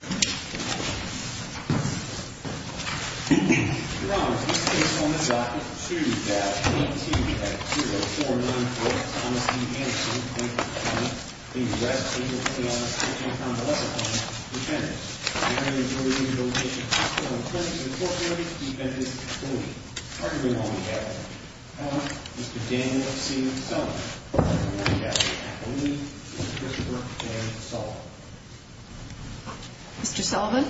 Your Honor, this case on the docket, 2-18-0494, Thomas D. Anderson, plaintiff's attorney. The arrest of the plaintiff's attorney from the lesser claim, defendants. The plaintiff's attorney is ordered to be relocated to a hospital. The plaintiff's attorney is a court-martialed defendant. The plaintiff's attorney is a court-martialed defendant. Arguably wrong, Your Honor. Mr. Daniel C. Sullivan. Mr. Sullivan.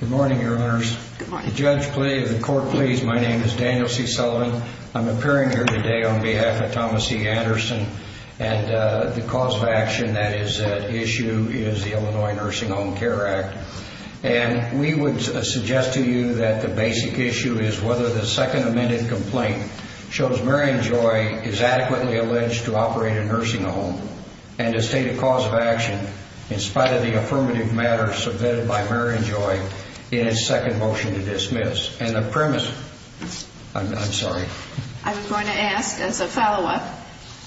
Good morning, Your Honors. Good morning. The judge please, the court please. My name is Daniel C. Sullivan. I'm appearing here today on behalf of Thomas D. Anderson. And the cause of action that is at issue is the Illinois Nursing Home Care Act. And we would suggest to you that the basic issue is whether the second amended complaint shows Marion Joy is adequately alleged to operate a nursing home and to state a cause of action in spite of the affirmative matter submitted by Marion Joy in its second motion to dismiss. And a premise, I'm sorry. I was going to ask as a follow-up,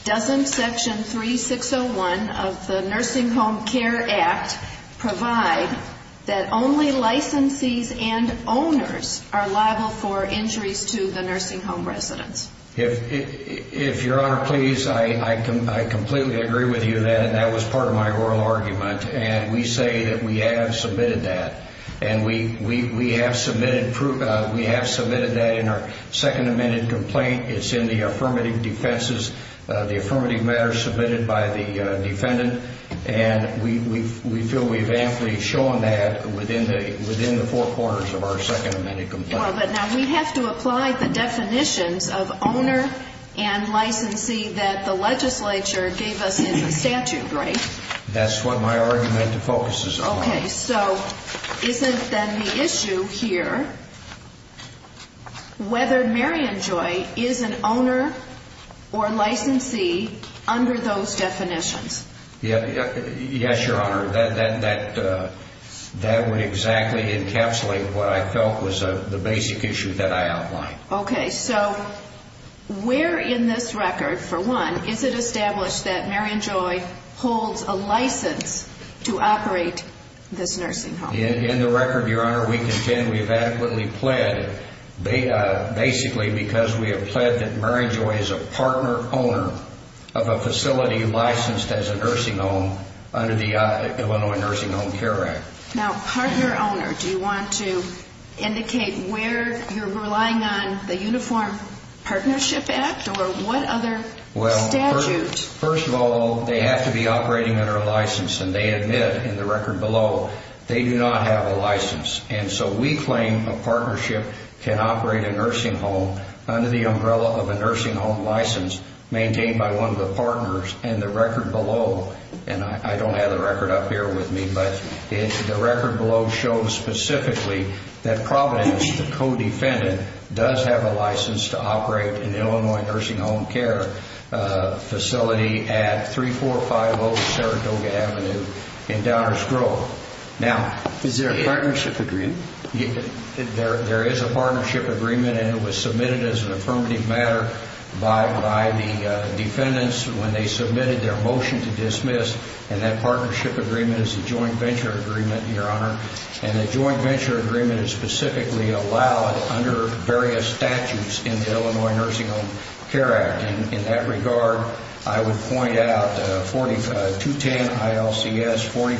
doesn't Section 3601 of the Nursing Home Care Act provide that only licensees and owners are liable for injuries to the nursing home residents? If Your Honor please, I completely agree with you on that. And that was part of my oral argument. And we say that we have submitted that. And we have submitted that in our second amended complaint. It's in the affirmative defenses, the affirmative matter submitted by the defendant. And we feel we've amply shown that within the four corners of our second amended complaint. But now we have to apply the definitions of owner and licensee that the legislature gave us in the statute, right? That's what my argument focuses on. Okay. So isn't then the issue here whether Marion Joy is an owner or licensee under those definitions? Yes, Your Honor. That would exactly encapsulate what I felt was the basic issue that I outlined. Okay. So where in this record, for one, is it established that Marion Joy holds a license to operate this nursing home? In the record, Your Honor, we contend we have adequately pled basically because we have pled that Marion Joy is a partner owner of a facility licensed as a nursing home under the Illinois Nursing Home Care Act. Now, partner owner, do you want to indicate where you're relying on the Uniform Partnership Act or what other statute? Well, first of all, they have to be operating under a license. And they admit in the record below they do not have a license. And so we claim a partnership can operate a nursing home under the umbrella of a nursing home license maintained by one of the partners. And the record below, and I don't have the record up here with me, but the record below shows specifically that Providence, the co-defendant, does have a license to operate an Illinois nursing home care facility at 3450 Saratoga Avenue in Downers Grove. Is there a partnership agreement? There is a partnership agreement, and it was submitted as an affirmative matter by the defendants when they submitted their motion to dismiss. And that partnership agreement is a joint venture agreement, Your Honor. And the joint venture agreement is specifically allowed under various statutes in the Illinois Nursing Home Care Act. And in that regard, I would point out 210 ILCS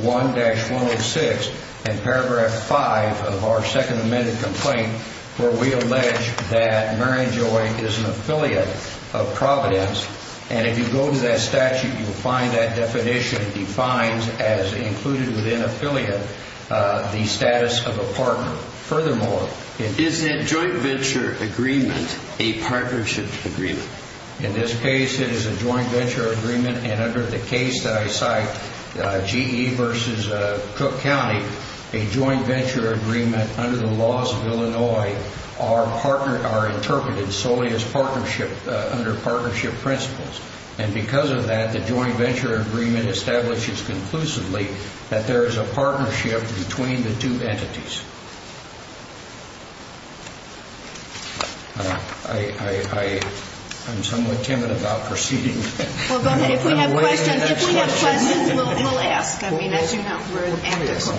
45-1-106 and Paragraph 5 of our second amended complaint, where we allege that Mary and Joy is an affiliate of Providence. And if you go to that statute, you will find that definition defines as included within affiliate the status of a partner. Is that joint venture agreement a partnership agreement? In this case, it is a joint venture agreement, and under the case that I cite, GE versus Cook County, a joint venture agreement under the laws of Illinois are interpreted solely as partnership under partnership principles. And because of that, the joint venture agreement establishes conclusively that there is a partnership between the two entities. I'm somewhat timid about proceeding. Well, go ahead. If we have questions, if we have questions, we'll ask. I mean, as you know, we're an activist.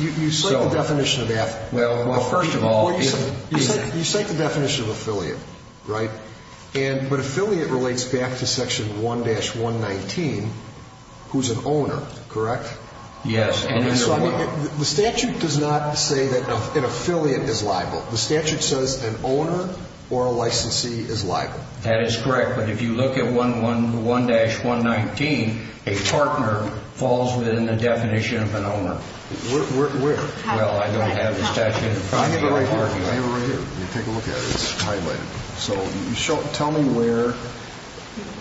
You cite the definition of affiliate. Well, first of all, you cite the definition of affiliate, right? But affiliate relates back to Section 1-119, who's an owner, correct? Yes. The statute does not say that an affiliate is liable. The statute says an owner or a licensee is liable. That is correct, but if you look at 1-119, a partner falls within the definition of an owner. Where? Well, I don't have the statute. I have it right here. I have it right here. Take a look at it. It's highlighted. So tell me where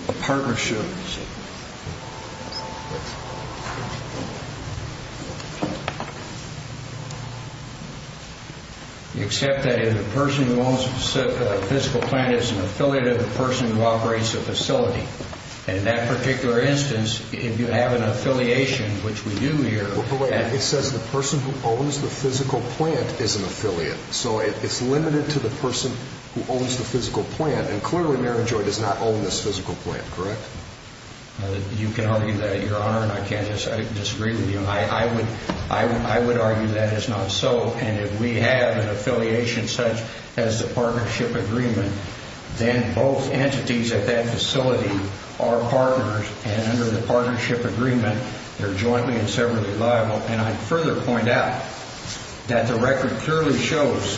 a partner should be. You accept that if the person who owns the physical plant is an affiliate of the person who operates the facility. And in that particular instance, if you have an affiliation, which we do here. Well, go ahead. It says the person who owns the physical plant is an affiliate. So it's limited to the person who owns the physical plant. And clearly Mary Joy does not own this physical plant, correct? You can argue that, Your Honor, and I disagree with you. I would argue that is not so. And if we have an affiliation such as the partnership agreement, then both entities at that facility are partners. And under the partnership agreement, they're jointly and severally liable. And I'd further point out that the record clearly shows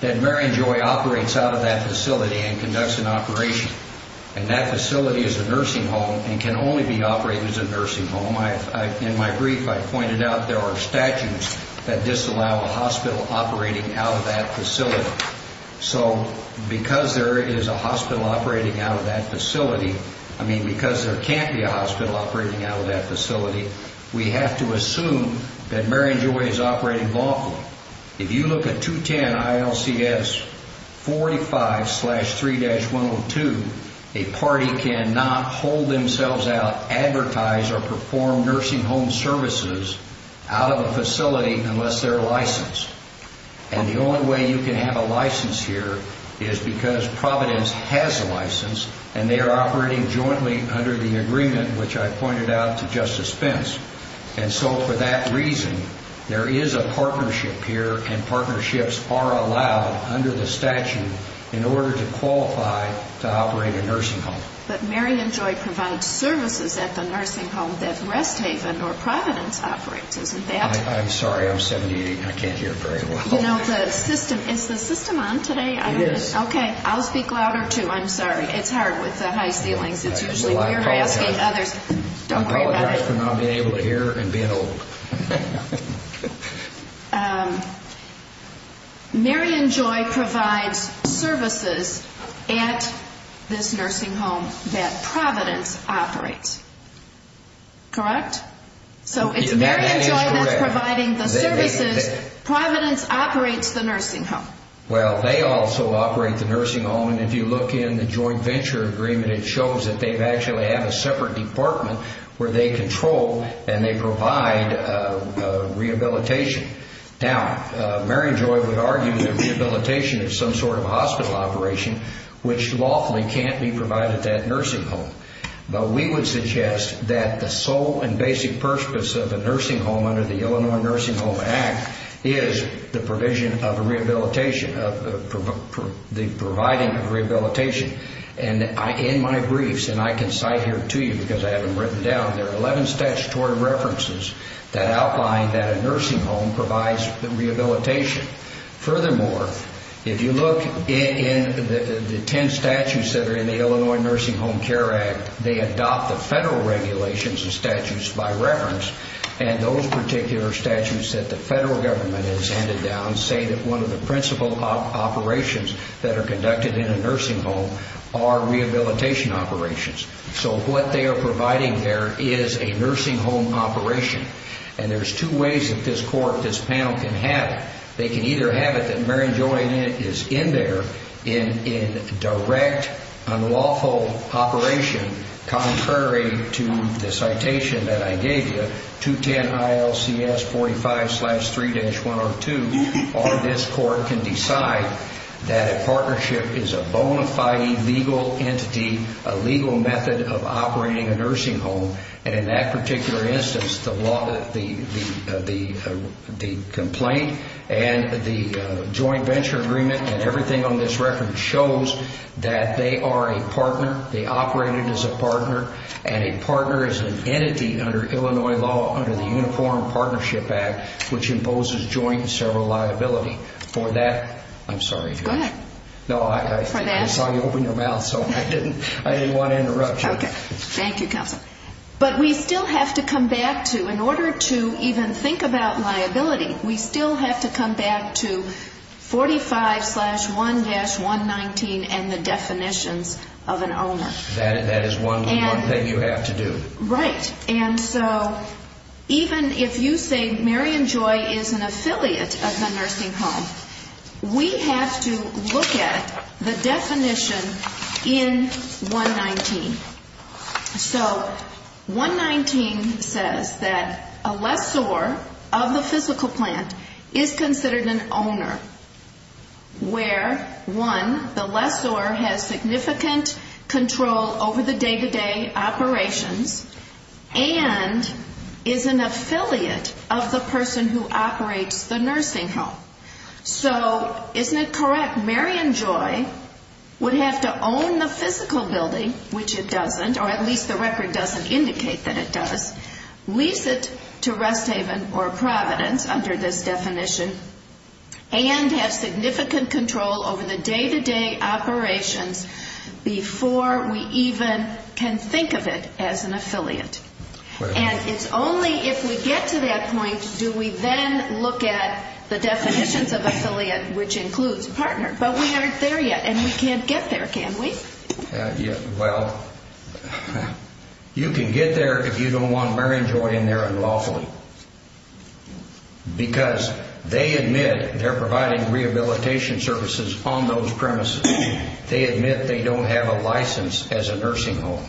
that Mary Joy operates out of that facility and conducts an operation. And that facility is a nursing home and can only be operated as a nursing home. In my brief, I pointed out there are statutes that disallow a hospital operating out of that facility. So because there is a hospital operating out of that facility, I mean because there can't be a hospital operating out of that facility, we have to assume that Mary Joy is operating lawfully. If you look at 210 ILCS 45-3-102, a party cannot hold themselves out, advertise or perform nursing home services out of a facility unless they're licensed. And the only way you can have a license here is because Providence has a license, and they are operating jointly under the agreement which I pointed out to Justice Pence. And so for that reason, there is a partnership here, and partnerships are allowed under the statute in order to qualify to operate a nursing home. But Mary and Joy provide services at the nursing home that Rest Haven or Providence operates, isn't that? I'm sorry, I'm 70, I can't hear very well. You know, the system, is the system on today? It is. Okay, I'll speak louder too, I'm sorry. It's hard with the high ceilings, it's usually weird asking others. I apologize for not being able to hear and being old. Mary and Joy provides services at this nursing home that Providence operates, correct? So it's Mary and Joy that's providing the services, Providence operates the nursing home. Well, they also operate the nursing home, and if you look in the joint venture agreement, it shows that they actually have a separate department where they control and they provide rehabilitation. Now, Mary and Joy would argue that rehabilitation is some sort of hospital operation, which lawfully can't be provided at that nursing home. But we would suggest that the sole and basic purpose of a nursing home under the Illinois Nursing Home Act is the provision of rehabilitation, the providing of rehabilitation. And in my briefs, and I can cite here to you because I have them written down, there are 11 statutory references that outline that a nursing home provides rehabilitation. Furthermore, if you look in the 10 statutes that are in the Illinois Nursing Home Care Act, they adopt the federal regulations and statutes by reference, and those particular statutes that the federal government has handed down say that one of the principal operations that are conducted in a nursing home are rehabilitation operations. So what they are providing there is a nursing home operation, and there's two ways that this court, this panel can have it. They can either have it that Mary and Joy is in there in direct unlawful operation, contrary to the citation that I gave you, 210 ILCS 45-3-102, or this court can decide that a partnership is a bona fide legal entity, a legal method of operating a nursing home, and in that particular instance, the complaint and the joint venture agreement and everything on this record shows that they are a partner. They operated as a partner, and a partner is an entity under Illinois law under the Uniform Partnership Act, which imposes joint and several liability. For that, I'm sorry. Go ahead. No, I saw you open your mouth, so I didn't want to interrupt you. Okay. Thank you, counsel. But we still have to come back to, in order to even think about liability, we still have to come back to 45-1-119 and the definitions of an owner. That is one thing you have to do. Right. And so even if you say Mary and Joy is an affiliate of the nursing home, we have to look at the definition in 119. So 119 says that a lessor of the physical plant is considered an owner where, one, the lessor has significant control over the day-to-day operations and is an affiliate of the person who operates the nursing home. So isn't it correct Mary and Joy would have to own the physical building, which it doesn't, or at least the record doesn't indicate that it does, lease it to Rest Haven or Providence under this definition, and have significant control over the day-to-day operations before we even can think of it as an affiliate? And it's only if we get to that point do we then look at the definitions of affiliate, which includes partner. But we aren't there yet, and we can't get there, can we? Well, you can get there if you don't want Mary and Joy in there unlawfully, because they admit they're providing rehabilitation services on those premises. They admit they don't have a license as a nursing home.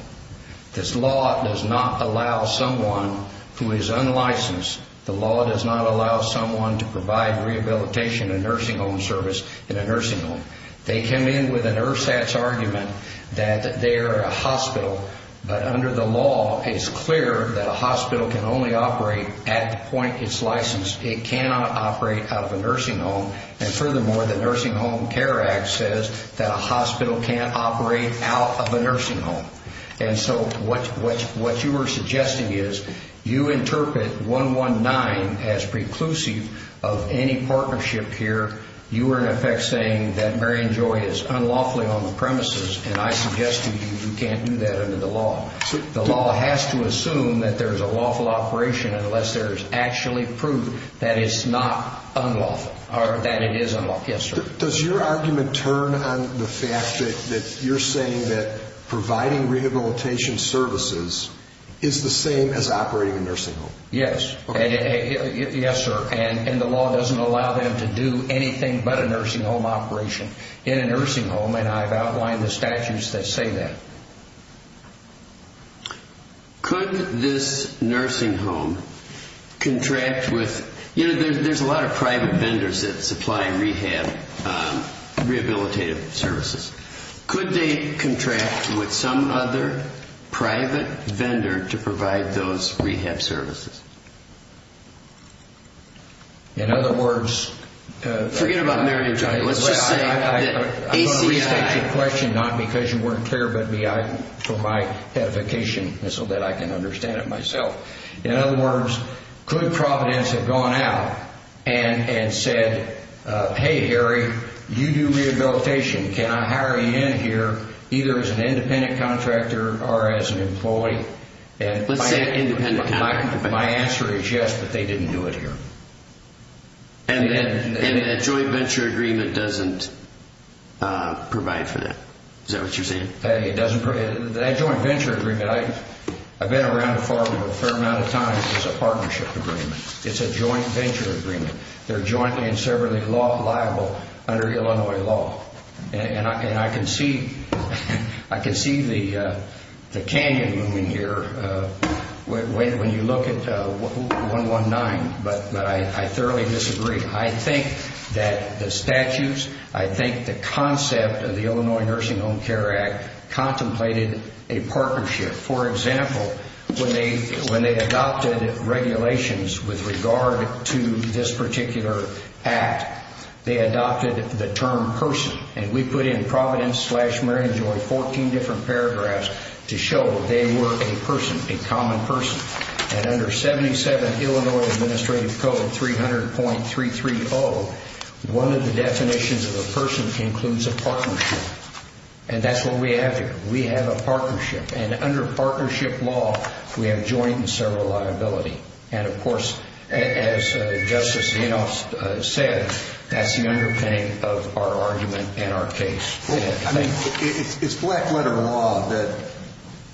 This law does not allow someone who is unlicensed, the law does not allow someone to provide rehabilitation and nursing home service in a nursing home. They come in with an ersatz argument that they are a hospital, but under the law it's clear that a hospital can only operate at the point it's licensed. It cannot operate out of a nursing home. And furthermore, the Nursing Home Care Act says that a hospital can't operate out of a nursing home. And so what you are suggesting is you interpret 119 as preclusive of any partnership here. You are, in effect, saying that Mary and Joy is unlawfully on the premises, and I suggest to you you can't do that under the law. The law has to assume that there is a lawful operation unless there is actually proof that it's not unlawful, or that it is unlawful. Yes, sir. Does your argument turn on the fact that you're saying that providing rehabilitation services is the same as operating a nursing home? Yes. Yes, sir. And the law doesn't allow them to do anything but a nursing home operation in a nursing home, and I've outlined the statutes that say that. Could this nursing home contract with... You know, there's a lot of private vendors that supply rehab, rehabilitative services. Could they contract with some other private vendor to provide those rehab services? In other words... Forget about Mary and Joy. Let's just say that ACI... Not because you weren't clear, but for my edification, so that I can understand it myself. In other words, could Providence have gone out and said, Hey, Harry, you do rehabilitation. Can I hire you in here either as an independent contractor or as an employee? Let's say independent contractor. My answer is yes, but they didn't do it here. And the joint venture agreement doesn't provide for that. Is that what you're saying? That joint venture agreement, I've been around a fair amount of times. It's a partnership agreement. It's a joint venture agreement. They're jointly and severally liable under Illinois law. And I can see the canyon moving here when you look at 119, but I thoroughly disagree. I think that the statutes, I think the concept of the Illinois Nursing Home Care Act, contemplated a partnership. For example, when they adopted regulations with regard to this particular act, they adopted the term person. And we put in Providence slash Mary and Joy, 14 different paragraphs, to show they were a person, a common person. And under 77 Illinois Administrative Code 300.330, one of the definitions of a person includes a partnership. And that's what we have here. We have a partnership. And under partnership law, we have joint and sever liability. And, of course, as Justice Inhofe said, that's the underpinning of our argument and our case. I mean, it's black letter law that,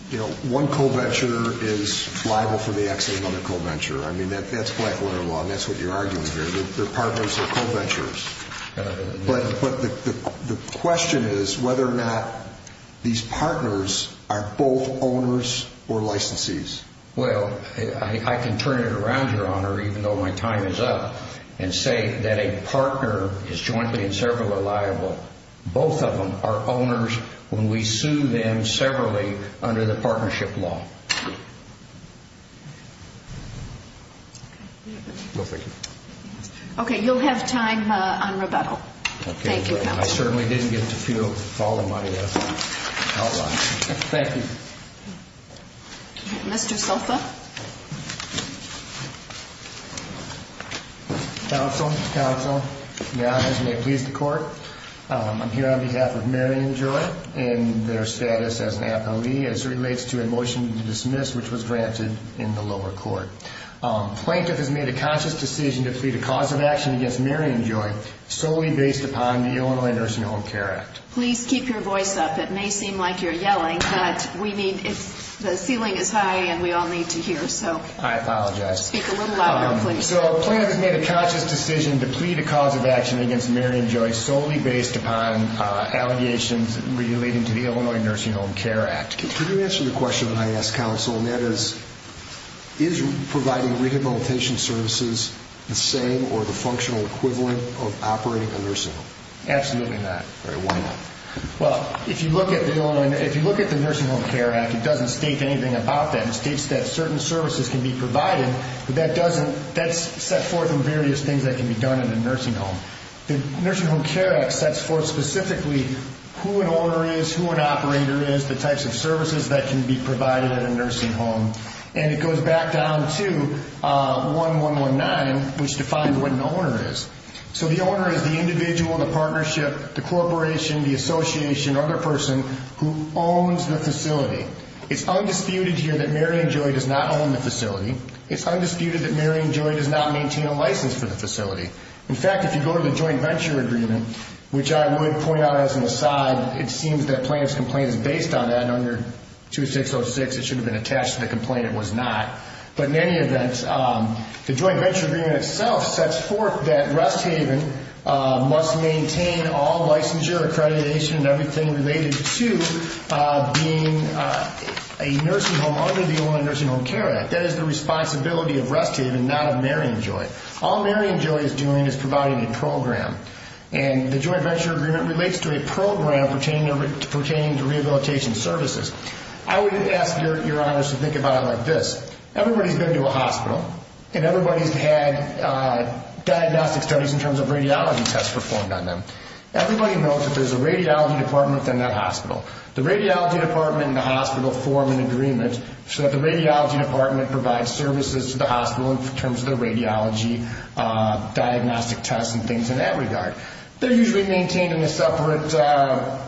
you know, one co-venture is liable for the exit of another co-venture. I mean, that's black letter law, and that's what you're arguing here. They're partners. They're co-ventures. But the question is whether or not these partners are both owners or licensees. Well, I can turn it around, Your Honor, even though my time is up, and say that a partner is jointly and severally liable. Both of them are owners when we sue them severally under the partnership law. Okay. No, thank you. Okay, you'll have time on rebuttal. Thank you, Your Honor. I certainly didn't get to fill all of my outlines. Thank you. Mr. Sulfa. Counsel. Counsel. Your Honor, as you may please the Court, I'm here on behalf of Mary and Joy and their status as an appellee as it relates to a motion to dismiss, which was granted in the lower court. Plaintiff has made a conscious decision to plead a cause of action against Mary and Joy solely based upon the Illinois Nursing Home Care Act. Please keep your voice up. It may seem like you're yelling, but we need to, the ceiling is high and we all need to hear, so. I apologize. Speak a little louder, please. So plaintiff has made a conscious decision to plead a cause of action against Mary and Joy solely based upon allegations relating to the Illinois Nursing Home Care Act. Could you answer the question that I asked, Counsel, and that is, is providing rehabilitation services the same or the functional equivalent of operating a nursing home? Absolutely not. All right, why not? Well, if you look at the Illinois, if you look at the Nursing Home Care Act, it doesn't state anything about that. It states that certain services can be provided, but that's set forth in various things that can be done in a nursing home. The Nursing Home Care Act sets forth specifically who an owner is, who an operator is, the types of services that can be provided in a nursing home, and it goes back down to 1-1-1-9, which defines what an owner is. So the owner is the individual, the partnership, the corporation, the association, or the person who owns the facility. It's undisputed here that Mary and Joy does not own the facility. It's undisputed that Mary and Joy does not maintain a license for the facility. In fact, if you go to the Joint Venture Agreement, which I would point out as an aside, it seems that plaintiff's complaint is based on that under 2606. It should have been attached to the complaint. It was not. But in any event, the Joint Venture Agreement itself sets forth that Rest Haven must maintain all licensure, accreditation, and everything related to being a nursing home under the Illinois Nursing Home Care Act. That is the responsibility of Rest Haven, not of Mary and Joy. All Mary and Joy is doing is providing a program, and the Joint Venture Agreement relates to a program pertaining to rehabilitation services. I would ask your honors to think about it like this. Everybody's been to a hospital, and everybody's had diagnostic studies in terms of radiology tests performed on them. Everybody knows that there's a radiology department within that hospital. The radiology department and the hospital form an agreement so that the radiology department provides services to the hospital in terms of the radiology diagnostic tests and things in that regard. They're usually maintained in a separate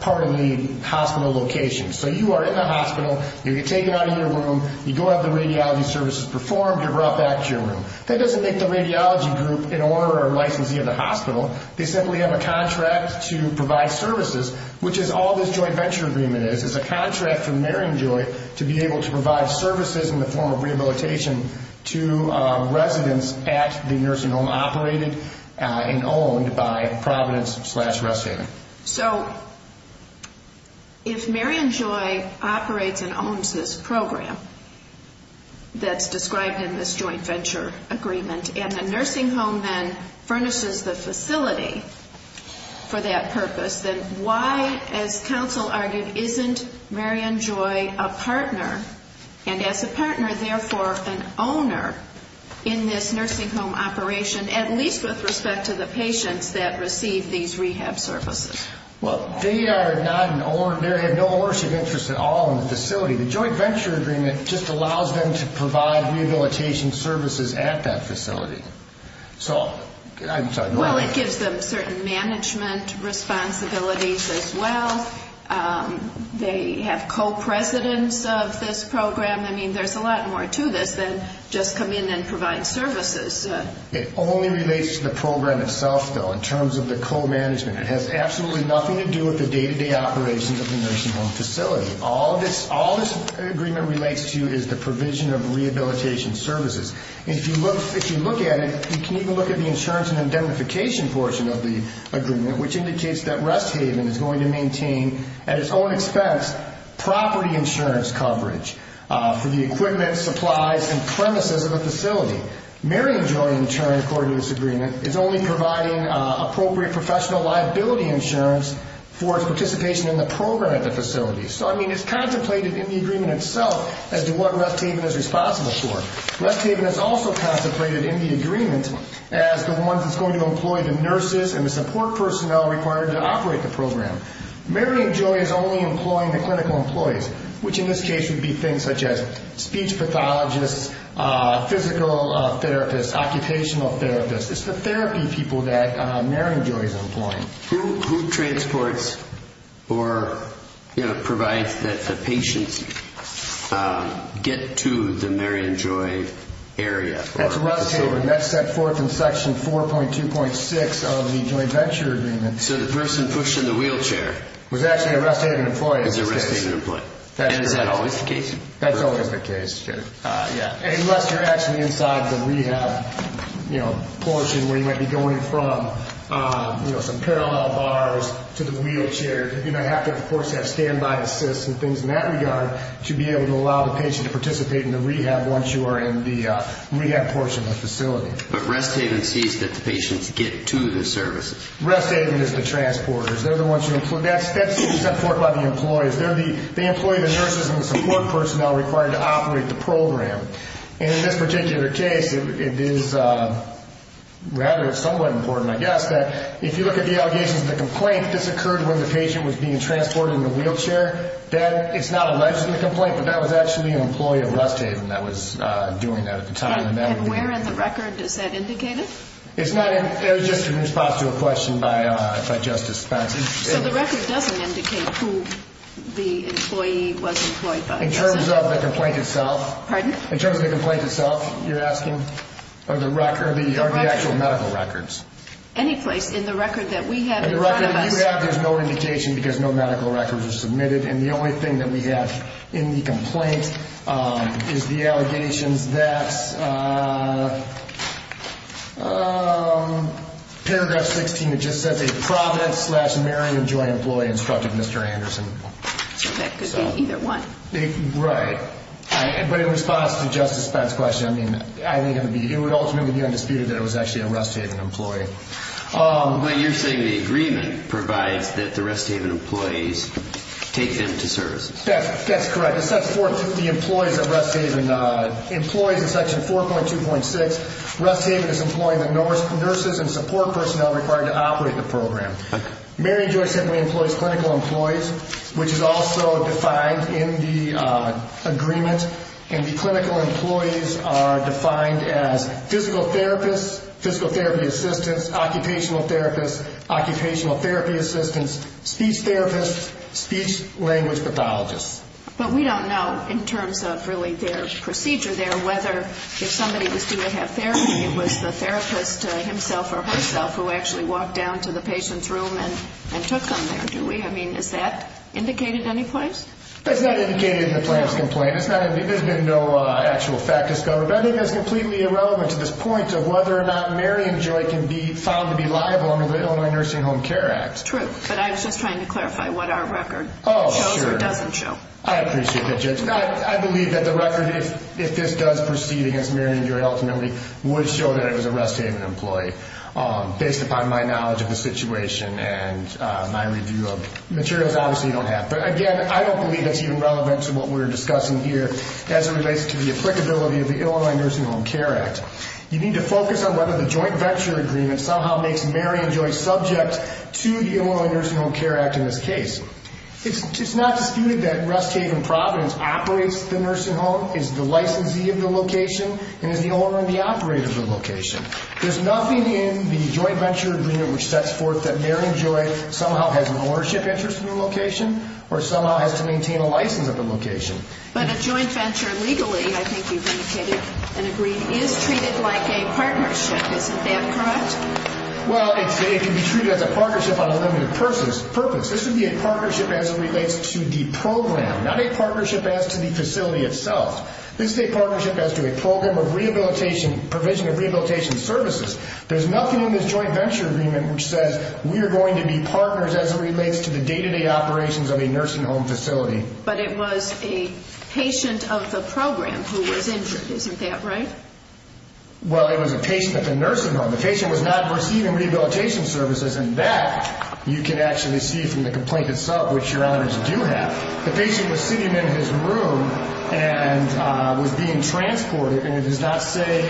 part of the hospital location. So you are in the hospital. You get taken out of your room. You go have the radiology services performed. You're brought back to your room. That doesn't make the radiology group an owner or a licensee of the hospital. They simply have a contract to provide services, which is all this Joint Venture Agreement is. It's a contract for Mary and Joy to be able to provide services in the form of rehabilitation to residents at the nursing home operated and owned by Providence slash Rest Haven. So if Mary and Joy operates and owns this program that's described in this Joint Venture Agreement, and the nursing home then furnishes the facility for that purpose, then why, as counsel argued, isn't Mary and Joy a partner? And as a partner, therefore, an owner in this nursing home operation, at least with respect to the patients that receive these rehab services? Well, they are not an owner. They have no ownership interest at all in the facility. The Joint Venture Agreement just allows them to provide rehabilitation services at that facility. Well, it gives them certain management responsibilities as well. They have co-presidents of this program. I mean, there's a lot more to this than just come in and provide services. It only relates to the program itself, though, in terms of the co-management. It has absolutely nothing to do with the day-to-day operations of the nursing home facility. All this agreement relates to is the provision of rehabilitation services. If you look at it, you can even look at the insurance and indemnification portion of the agreement, which indicates that Rest Haven is going to maintain, at its own expense, property insurance coverage for the equipment, supplies, and premises of the facility. Mary and Joy, in turn, according to this agreement, is only providing appropriate professional liability insurance for its participation in the program at the facility. So, I mean, it's contemplated in the agreement itself as to what Rest Haven is responsible for. Rest Haven is also contemplated in the agreement as the one that's going to employ the nurses and the support personnel required to operate the program. Mary and Joy is only employing the clinical employees, which in this case would be things such as speech pathologists, physical therapists, occupational therapists. It's the therapy people that Mary and Joy is employing. Who transports or provides that the patients get to the Mary and Joy area? That's Rest Haven. That's set forth in Section 4.2.6 of the Joy Venture Agreement. So the person pushed in the wheelchair... Was actually a Rest Haven employee. ...is a Rest Haven employee. And is that always the case? That's always the case. Unless you're actually inside the rehab portion where you might be going from, you know, some parallel bars to the wheelchair. You're going to have to, of course, have standby assists and things in that regard to be able to allow the patient to participate in the rehab once you are in the rehab portion of the facility. But Rest Haven sees that the patients get to the services. Rest Haven is the transporters. They're the ones who employ... That's set forth by the employees. They employ the nurses and the support personnel required to operate the program. And in this particular case, it is rather somewhat important, I guess, that if you look at the allegations of the complaint, this occurred when the patient was being transported in the wheelchair. It's not alleged in the complaint, but that was actually an employee of Rest Haven that was doing that at the time. And where in the record is that indicated? It's not. It was just in response to a question by Justice Spencer. So the record doesn't indicate who the employee was employed by, does it? In terms of the complaint itself. Pardon? In terms of the complaint itself, you're asking? Or the actual medical records. Any place in the record that we have in front of us. In the record that you have, there's no indication because no medical records are submitted. And the only thing that we have in the complaint is the allegations that paragraph 16, it just says a Providence slash Marion Joy employee instructed Mr. Anderson. That could be either one. Right. But in response to Justice Spencer's question, I think it would ultimately be undisputed that it was actually a Rest Haven employee. But you're saying the agreement provides that the Rest Haven employees take them to services. That's correct. It says for the employees of Rest Haven, employees in section 4.2.6, Rest Haven is employing the nurses and support personnel required to operate the program. Marion Joy simply employs clinical employees, which is also defined in the agreement. And the clinical employees are defined as physical therapists, physical therapy assistants, occupational therapists, occupational therapy assistants, speech therapists, speech language pathologists. But we don't know in terms of really their procedure there whether if somebody was due to have therapy, it was the therapist himself or herself who actually walked down to the patient's room and took them there, do we? I mean, is that indicated in any place? That's not indicated in the plaintiff's complaint. There's been no actual fact discovered. I think that's completely irrelevant to this point of whether or not Marion Joy can be found to be liable under the Illinois Nursing Home Care Act. True. But I was just trying to clarify what our record shows or doesn't show. Oh, sure. I appreciate that, Judge. I believe that the record, if this does proceed against Marion Joy ultimately, would show that it was a Rest Haven employee. Based upon my knowledge of the situation and my review of materials, obviously, you don't have. But, again, I don't believe that's even relevant to what we're discussing here as it relates to the applicability of the Illinois Nursing Home Care Act. You need to focus on whether the joint venture agreement somehow makes Marion Joy subject to the Illinois Nursing Home Care Act in this case. It's not disputed that Rest Haven Providence operates the nursing home, is the licensee of the location, and is the owner and the operator of the location. There's nothing in the joint venture agreement which sets forth that Marion Joy somehow has an ownership interest in the location or somehow has to maintain a license at the location. But a joint venture legally, I think you've indicated and agreed, is treated like a partnership. Isn't that correct? Well, it can be treated as a partnership on a limited purpose. This would be a partnership as it relates to the program, not a partnership as to the facility itself. This is a partnership as to a program of rehabilitation, provision of rehabilitation services. There's nothing in this joint venture agreement which says we are going to be partners as it relates to the day-to-day operations of a nursing home facility. But it was a patient of the program who was injured. Isn't that right? Well, it was a patient at the nursing home. The patient was not receiving rehabilitation services, and that you can actually see from the complaint itself, which your honors do have. The patient was sitting in his room and was being transported. And it does not say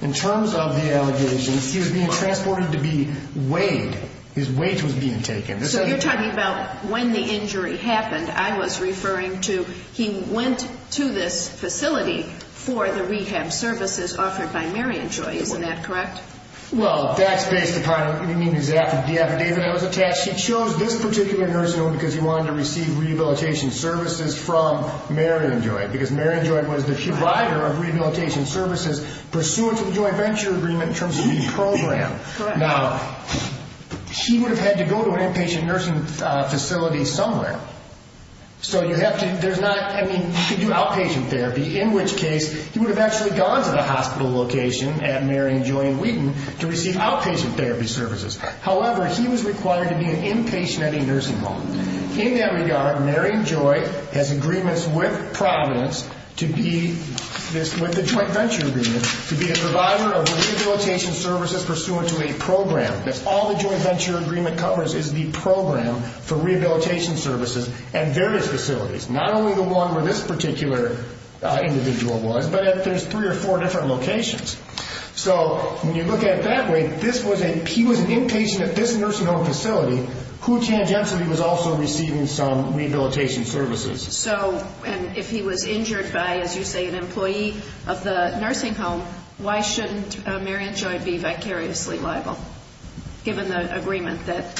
in terms of the allegations he was being transported to be weighed. His weight was being taken. So you're talking about when the injury happened, I was referring to he went to this facility for the rehab services offered by Marion Joy. Isn't that correct? Well, that's based upon his affidavit that was attached. He chose this particular nursing home because he wanted to receive rehabilitation services from Marion Joy because Marion Joy was the provider of rehabilitation services pursuant to the joint venture agreement in terms of the program. Now, he would have had to go to an inpatient nursing facility somewhere. So you have to do outpatient therapy, in which case he would have actually gone to the hospital location at Marion Joy in Wheaton to receive outpatient therapy services. However, he was required to be an inpatient at a nursing home. In that regard, Marion Joy has agreements with Providence with the joint venture agreement to be a provider of rehabilitation services pursuant to a program. That's all the joint venture agreement covers is the program for rehabilitation services and various facilities, not only the one where this particular individual was, but there's three or four different locations. So when you look at it that way, if he was an inpatient at this nursing home facility, who tangentially was also receiving some rehabilitation services? So if he was injured by, as you say, an employee of the nursing home, why shouldn't Marion Joy be vicariously liable given the agreement that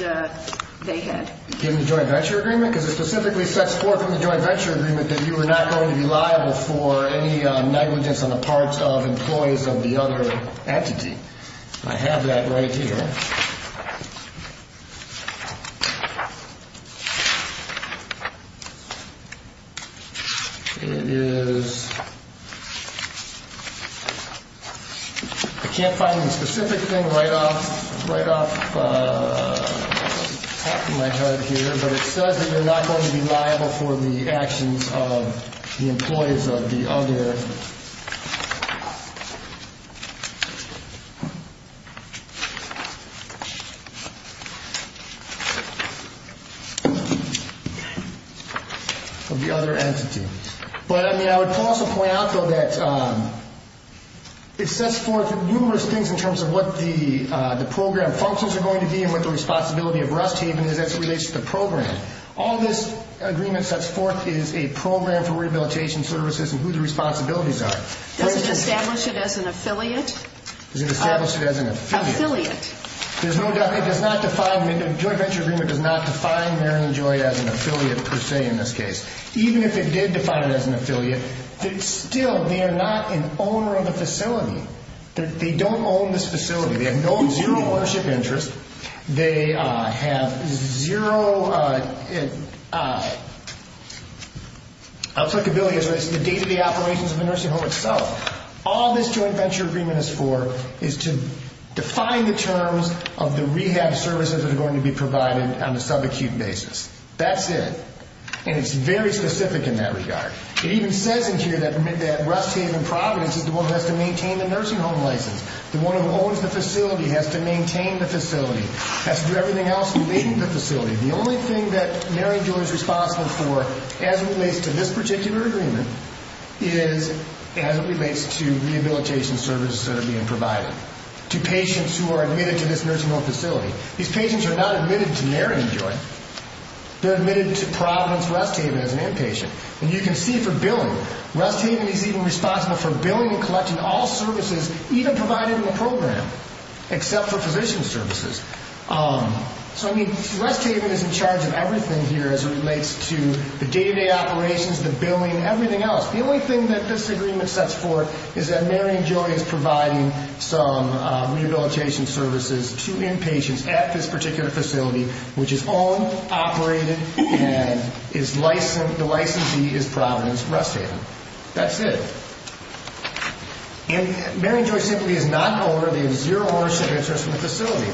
they had? Given the joint venture agreement? Because it specifically sets forth in the joint venture agreement that you are not going to be liable for any negligence on the parts of employees of the other entity. I have that right here. It is, I can't find the specific thing right off the top of my head here, but it says that you're not going to be liable for the actions of the employees of the other entity. But I would also point out, though, that it sets forth numerous things in terms of what the program functions are going to be and what the responsibility of Rust Haven is as it relates to the program. All this agreement sets forth is a program for rehabilitation services and who the responsibilities are. Does it establish it as an affiliate? Does it establish it as an affiliate? Affiliate. It does not define, the joint venture agreement does not define Marion Joy as an affiliate per se in this case. Even if it did define it as an affiliate, still they are not an owner of the facility. They don't own this facility. They have no ownership interest. They have zero applicability as far as the day-to-day operations of the nursing home itself. All this joint venture agreement is for is to define the terms of the rehab services that are going to be provided on a sub-acute basis. That's it. And it's very specific in that regard. It even says in here that Rust Haven Providence is the one who has to maintain the nursing home license. The one who owns the facility has to maintain the facility, has to do everything else leading the facility. The only thing that Marion Joy is responsible for as it relates to this particular agreement is as it relates to rehabilitation services that are being provided to patients who are admitted to this nursing home facility. These patients are not admitted to Marion Joy. They're admitted to Providence Rust Haven as an inpatient. And you can see for billing, Rust Haven is even responsible for billing and collecting all services, even provided in the program, except for physician services. So, I mean, Rust Haven is in charge of everything here as it relates to the day-to-day operations, the billing, everything else. The only thing that this agreement sets forth is that Marion Joy is providing some rehabilitation services to inpatients at this particular facility, which is owned, operated, and the licensee is Providence Rust Haven. That's it. And Marion Joy simply is not an owner. They have zero ownership interest in the facility.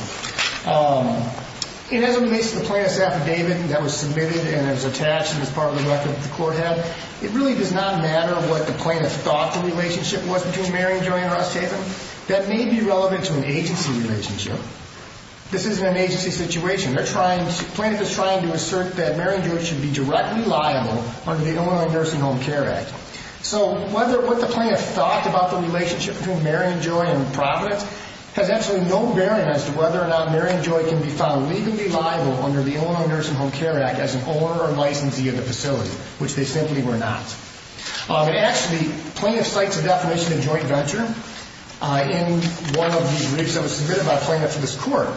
And as it relates to the plaintiff's affidavit that was submitted and is attached to this part of the record that the court had, it really does not matter what the plaintiff thought the relationship was between Marion Joy and Rust Haven. That may be relevant to an agency relationship. This isn't an agency situation. The plaintiff is trying to assert that Marion Joy should be directly liable under the Illinois Nursing Home Care Act. So what the plaintiff thought about the relationship between Marion Joy and Providence has actually no bearing as to whether or not Marion Joy can be found legally liable under the Illinois Nursing Home Care Act as an owner or licensee of the facility, which they simply were not. Actually, the plaintiff cites a definition of joint venture in one of the briefs that was submitted by a plaintiff to this court.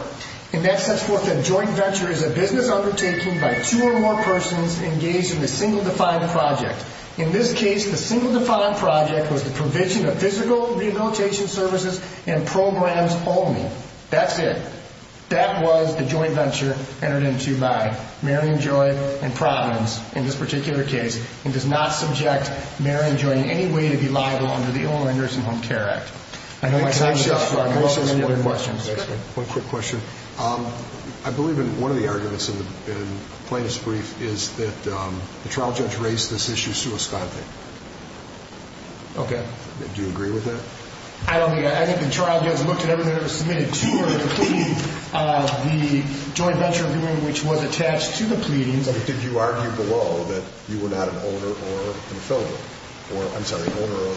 And that sets forth that a joint venture is a business undertaking by two or more persons engaged in a single defined project. In this case, the single defined project was the provision of physical rehabilitation services and programs only. That's it. That was the joint venture entered into by Marion Joy and Providence in this particular case and does not subject Marion Joy in any way to be liable under the Illinois Nursing Home Care Act. I know my time is up, so I'm open to any other questions. One quick question. I believe in one of the arguments in the plaintiff's brief is that the trial judge raised this issue suisconte. Okay. Do you agree with that? I think the trial judge looked at everything that was submitted to her, including the joint venture agreement, which was attached to the pleadings. Did you argue below that you were not an owner or a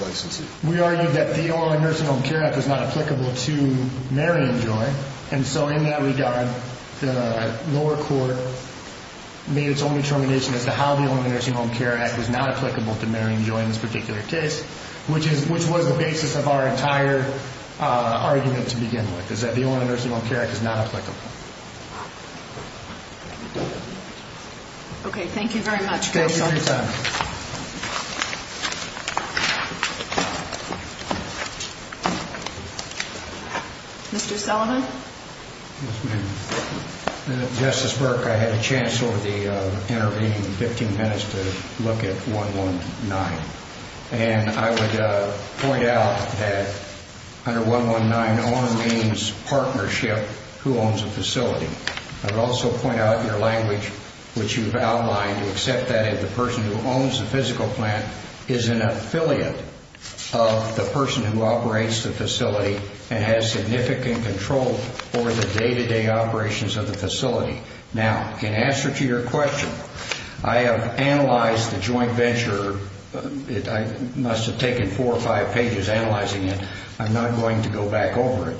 licensee? We argued that the Illinois Nursing Home Care Act is not applicable to Marion Joy. And so in that regard, the lower court made its own determination as to how the Illinois Nursing Home Care Act is not applicable to Marion Joy in this particular case, which was the basis of our entire argument to begin with, is that the Illinois Nursing Home Care Act is not applicable. Okay. Thank you very much. Thank you for your time. Thank you. Mr. Sullivan? Yes, ma'am. Justice Burke, I had a chance over the intervening 15 minutes to look at 119. And I would point out that under 119, owner means partnership who owns a facility. I would also point out in your language, which you've outlined, you accept that if the person who owns the physical plant is an affiliate of the person who operates the facility and has significant control over the day-to-day operations of the facility. Now, in answer to your question, I have analyzed the joint venture. I must have taken four or five pages analyzing it. I'm not going to go back over it.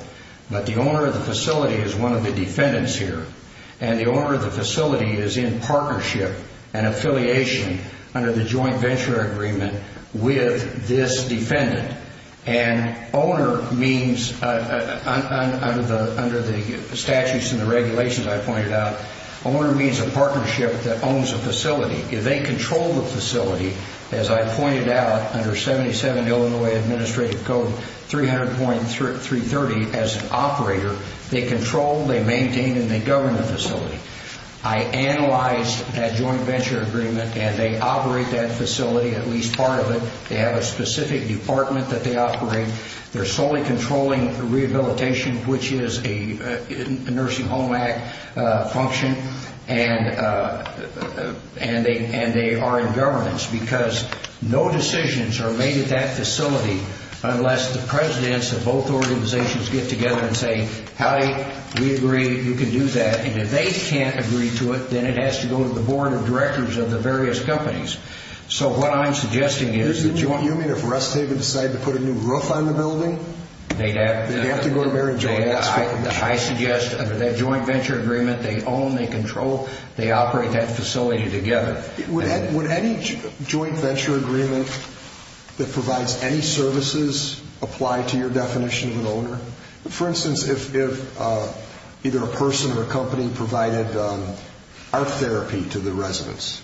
But the owner of the facility is one of the defendants here, and the owner of the facility is in partnership and affiliation under the joint venture agreement with this defendant. And owner means, under the statutes and the regulations I pointed out, owner means a partnership that owns a facility. If they control the facility, as I pointed out, under 77 Illinois Administrative Code 300.330, as an operator, they control, they maintain, and they govern the facility. I analyzed that joint venture agreement, and they operate that facility, at least part of it. They have a specific department that they operate. They're solely controlling the rehabilitation, which is a Nursing Home Act function. And they are in governance, because no decisions are made at that facility unless the presidents of both organizations get together and say, Howdy, we agree, you can do that. And if they can't agree to it, then it has to go to the board of directors of the various companies. So what I'm suggesting is that you want... You mean if Russ David decided to put a new roof on the building? They'd have to... They'd have to go to Mary Jo and ask for it. I suggest under that joint venture agreement, they own, they control, they operate that facility together. Would any joint venture agreement that provides any services apply to your definition of an owner? For instance, if either a person or a company provided art therapy to the residents,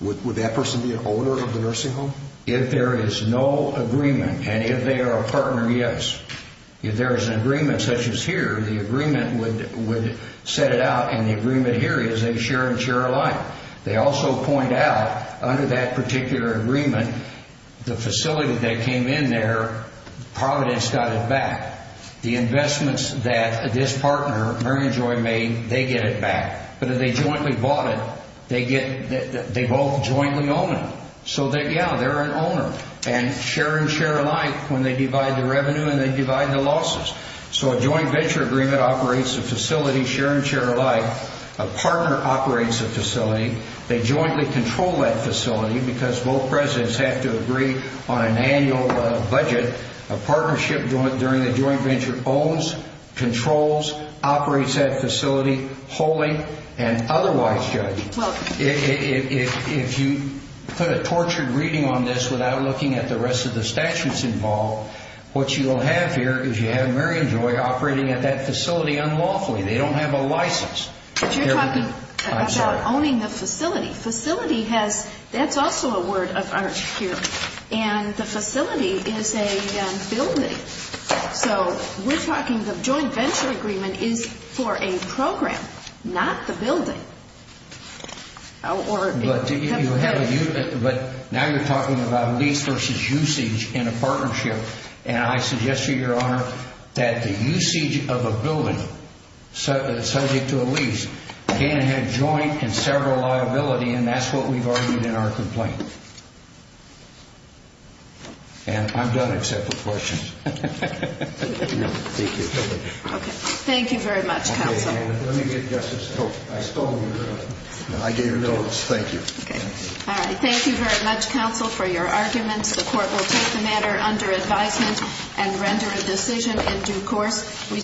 would that person be an owner of the nursing home? If there is no agreement, and if they are a partner, yes. If there is an agreement such as here, the agreement would set it out, and the agreement here is they share and share alike. They also point out, under that particular agreement, the facility that came in there, Providence got it back. The investments that this partner, Mary Jo, made, they get it back. But if they jointly bought it, they both jointly own it. So yeah, they're an owner. And share and share alike when they divide the revenue and they divide the losses. So a joint venture agreement operates a facility, share and share alike. A partner operates a facility. They jointly control that facility because both presidents have to agree on an annual budget. A partnership during a joint venture owns, controls, operates that facility wholly and otherwise, Judge. If you put a tortured reading on this without looking at the rest of the statutes involved, what you will have here is you have Mary and Jo operating at that facility unlawfully. They don't have a license. But you're talking about owning the facility. Facility has, that's also a word of art here, and the facility is a building. So we're talking the joint venture agreement is for a program, not the building. But now you're talking about lease versus usage in a partnership, and I suggest to you, Your Honor, that the usage of a building subject to a lease can have joint and several liability, and that's what we've argued in our complaint. And I'm done except for questions. Thank you. Okay. Thank you very much, Counsel. Let me get Justice Hope. I stole your notes. I gave your notes. Thank you. Okay. All right. Thank you very much, Counsel, for your arguments. The Court will take the matter under advisement and render a decision in due course.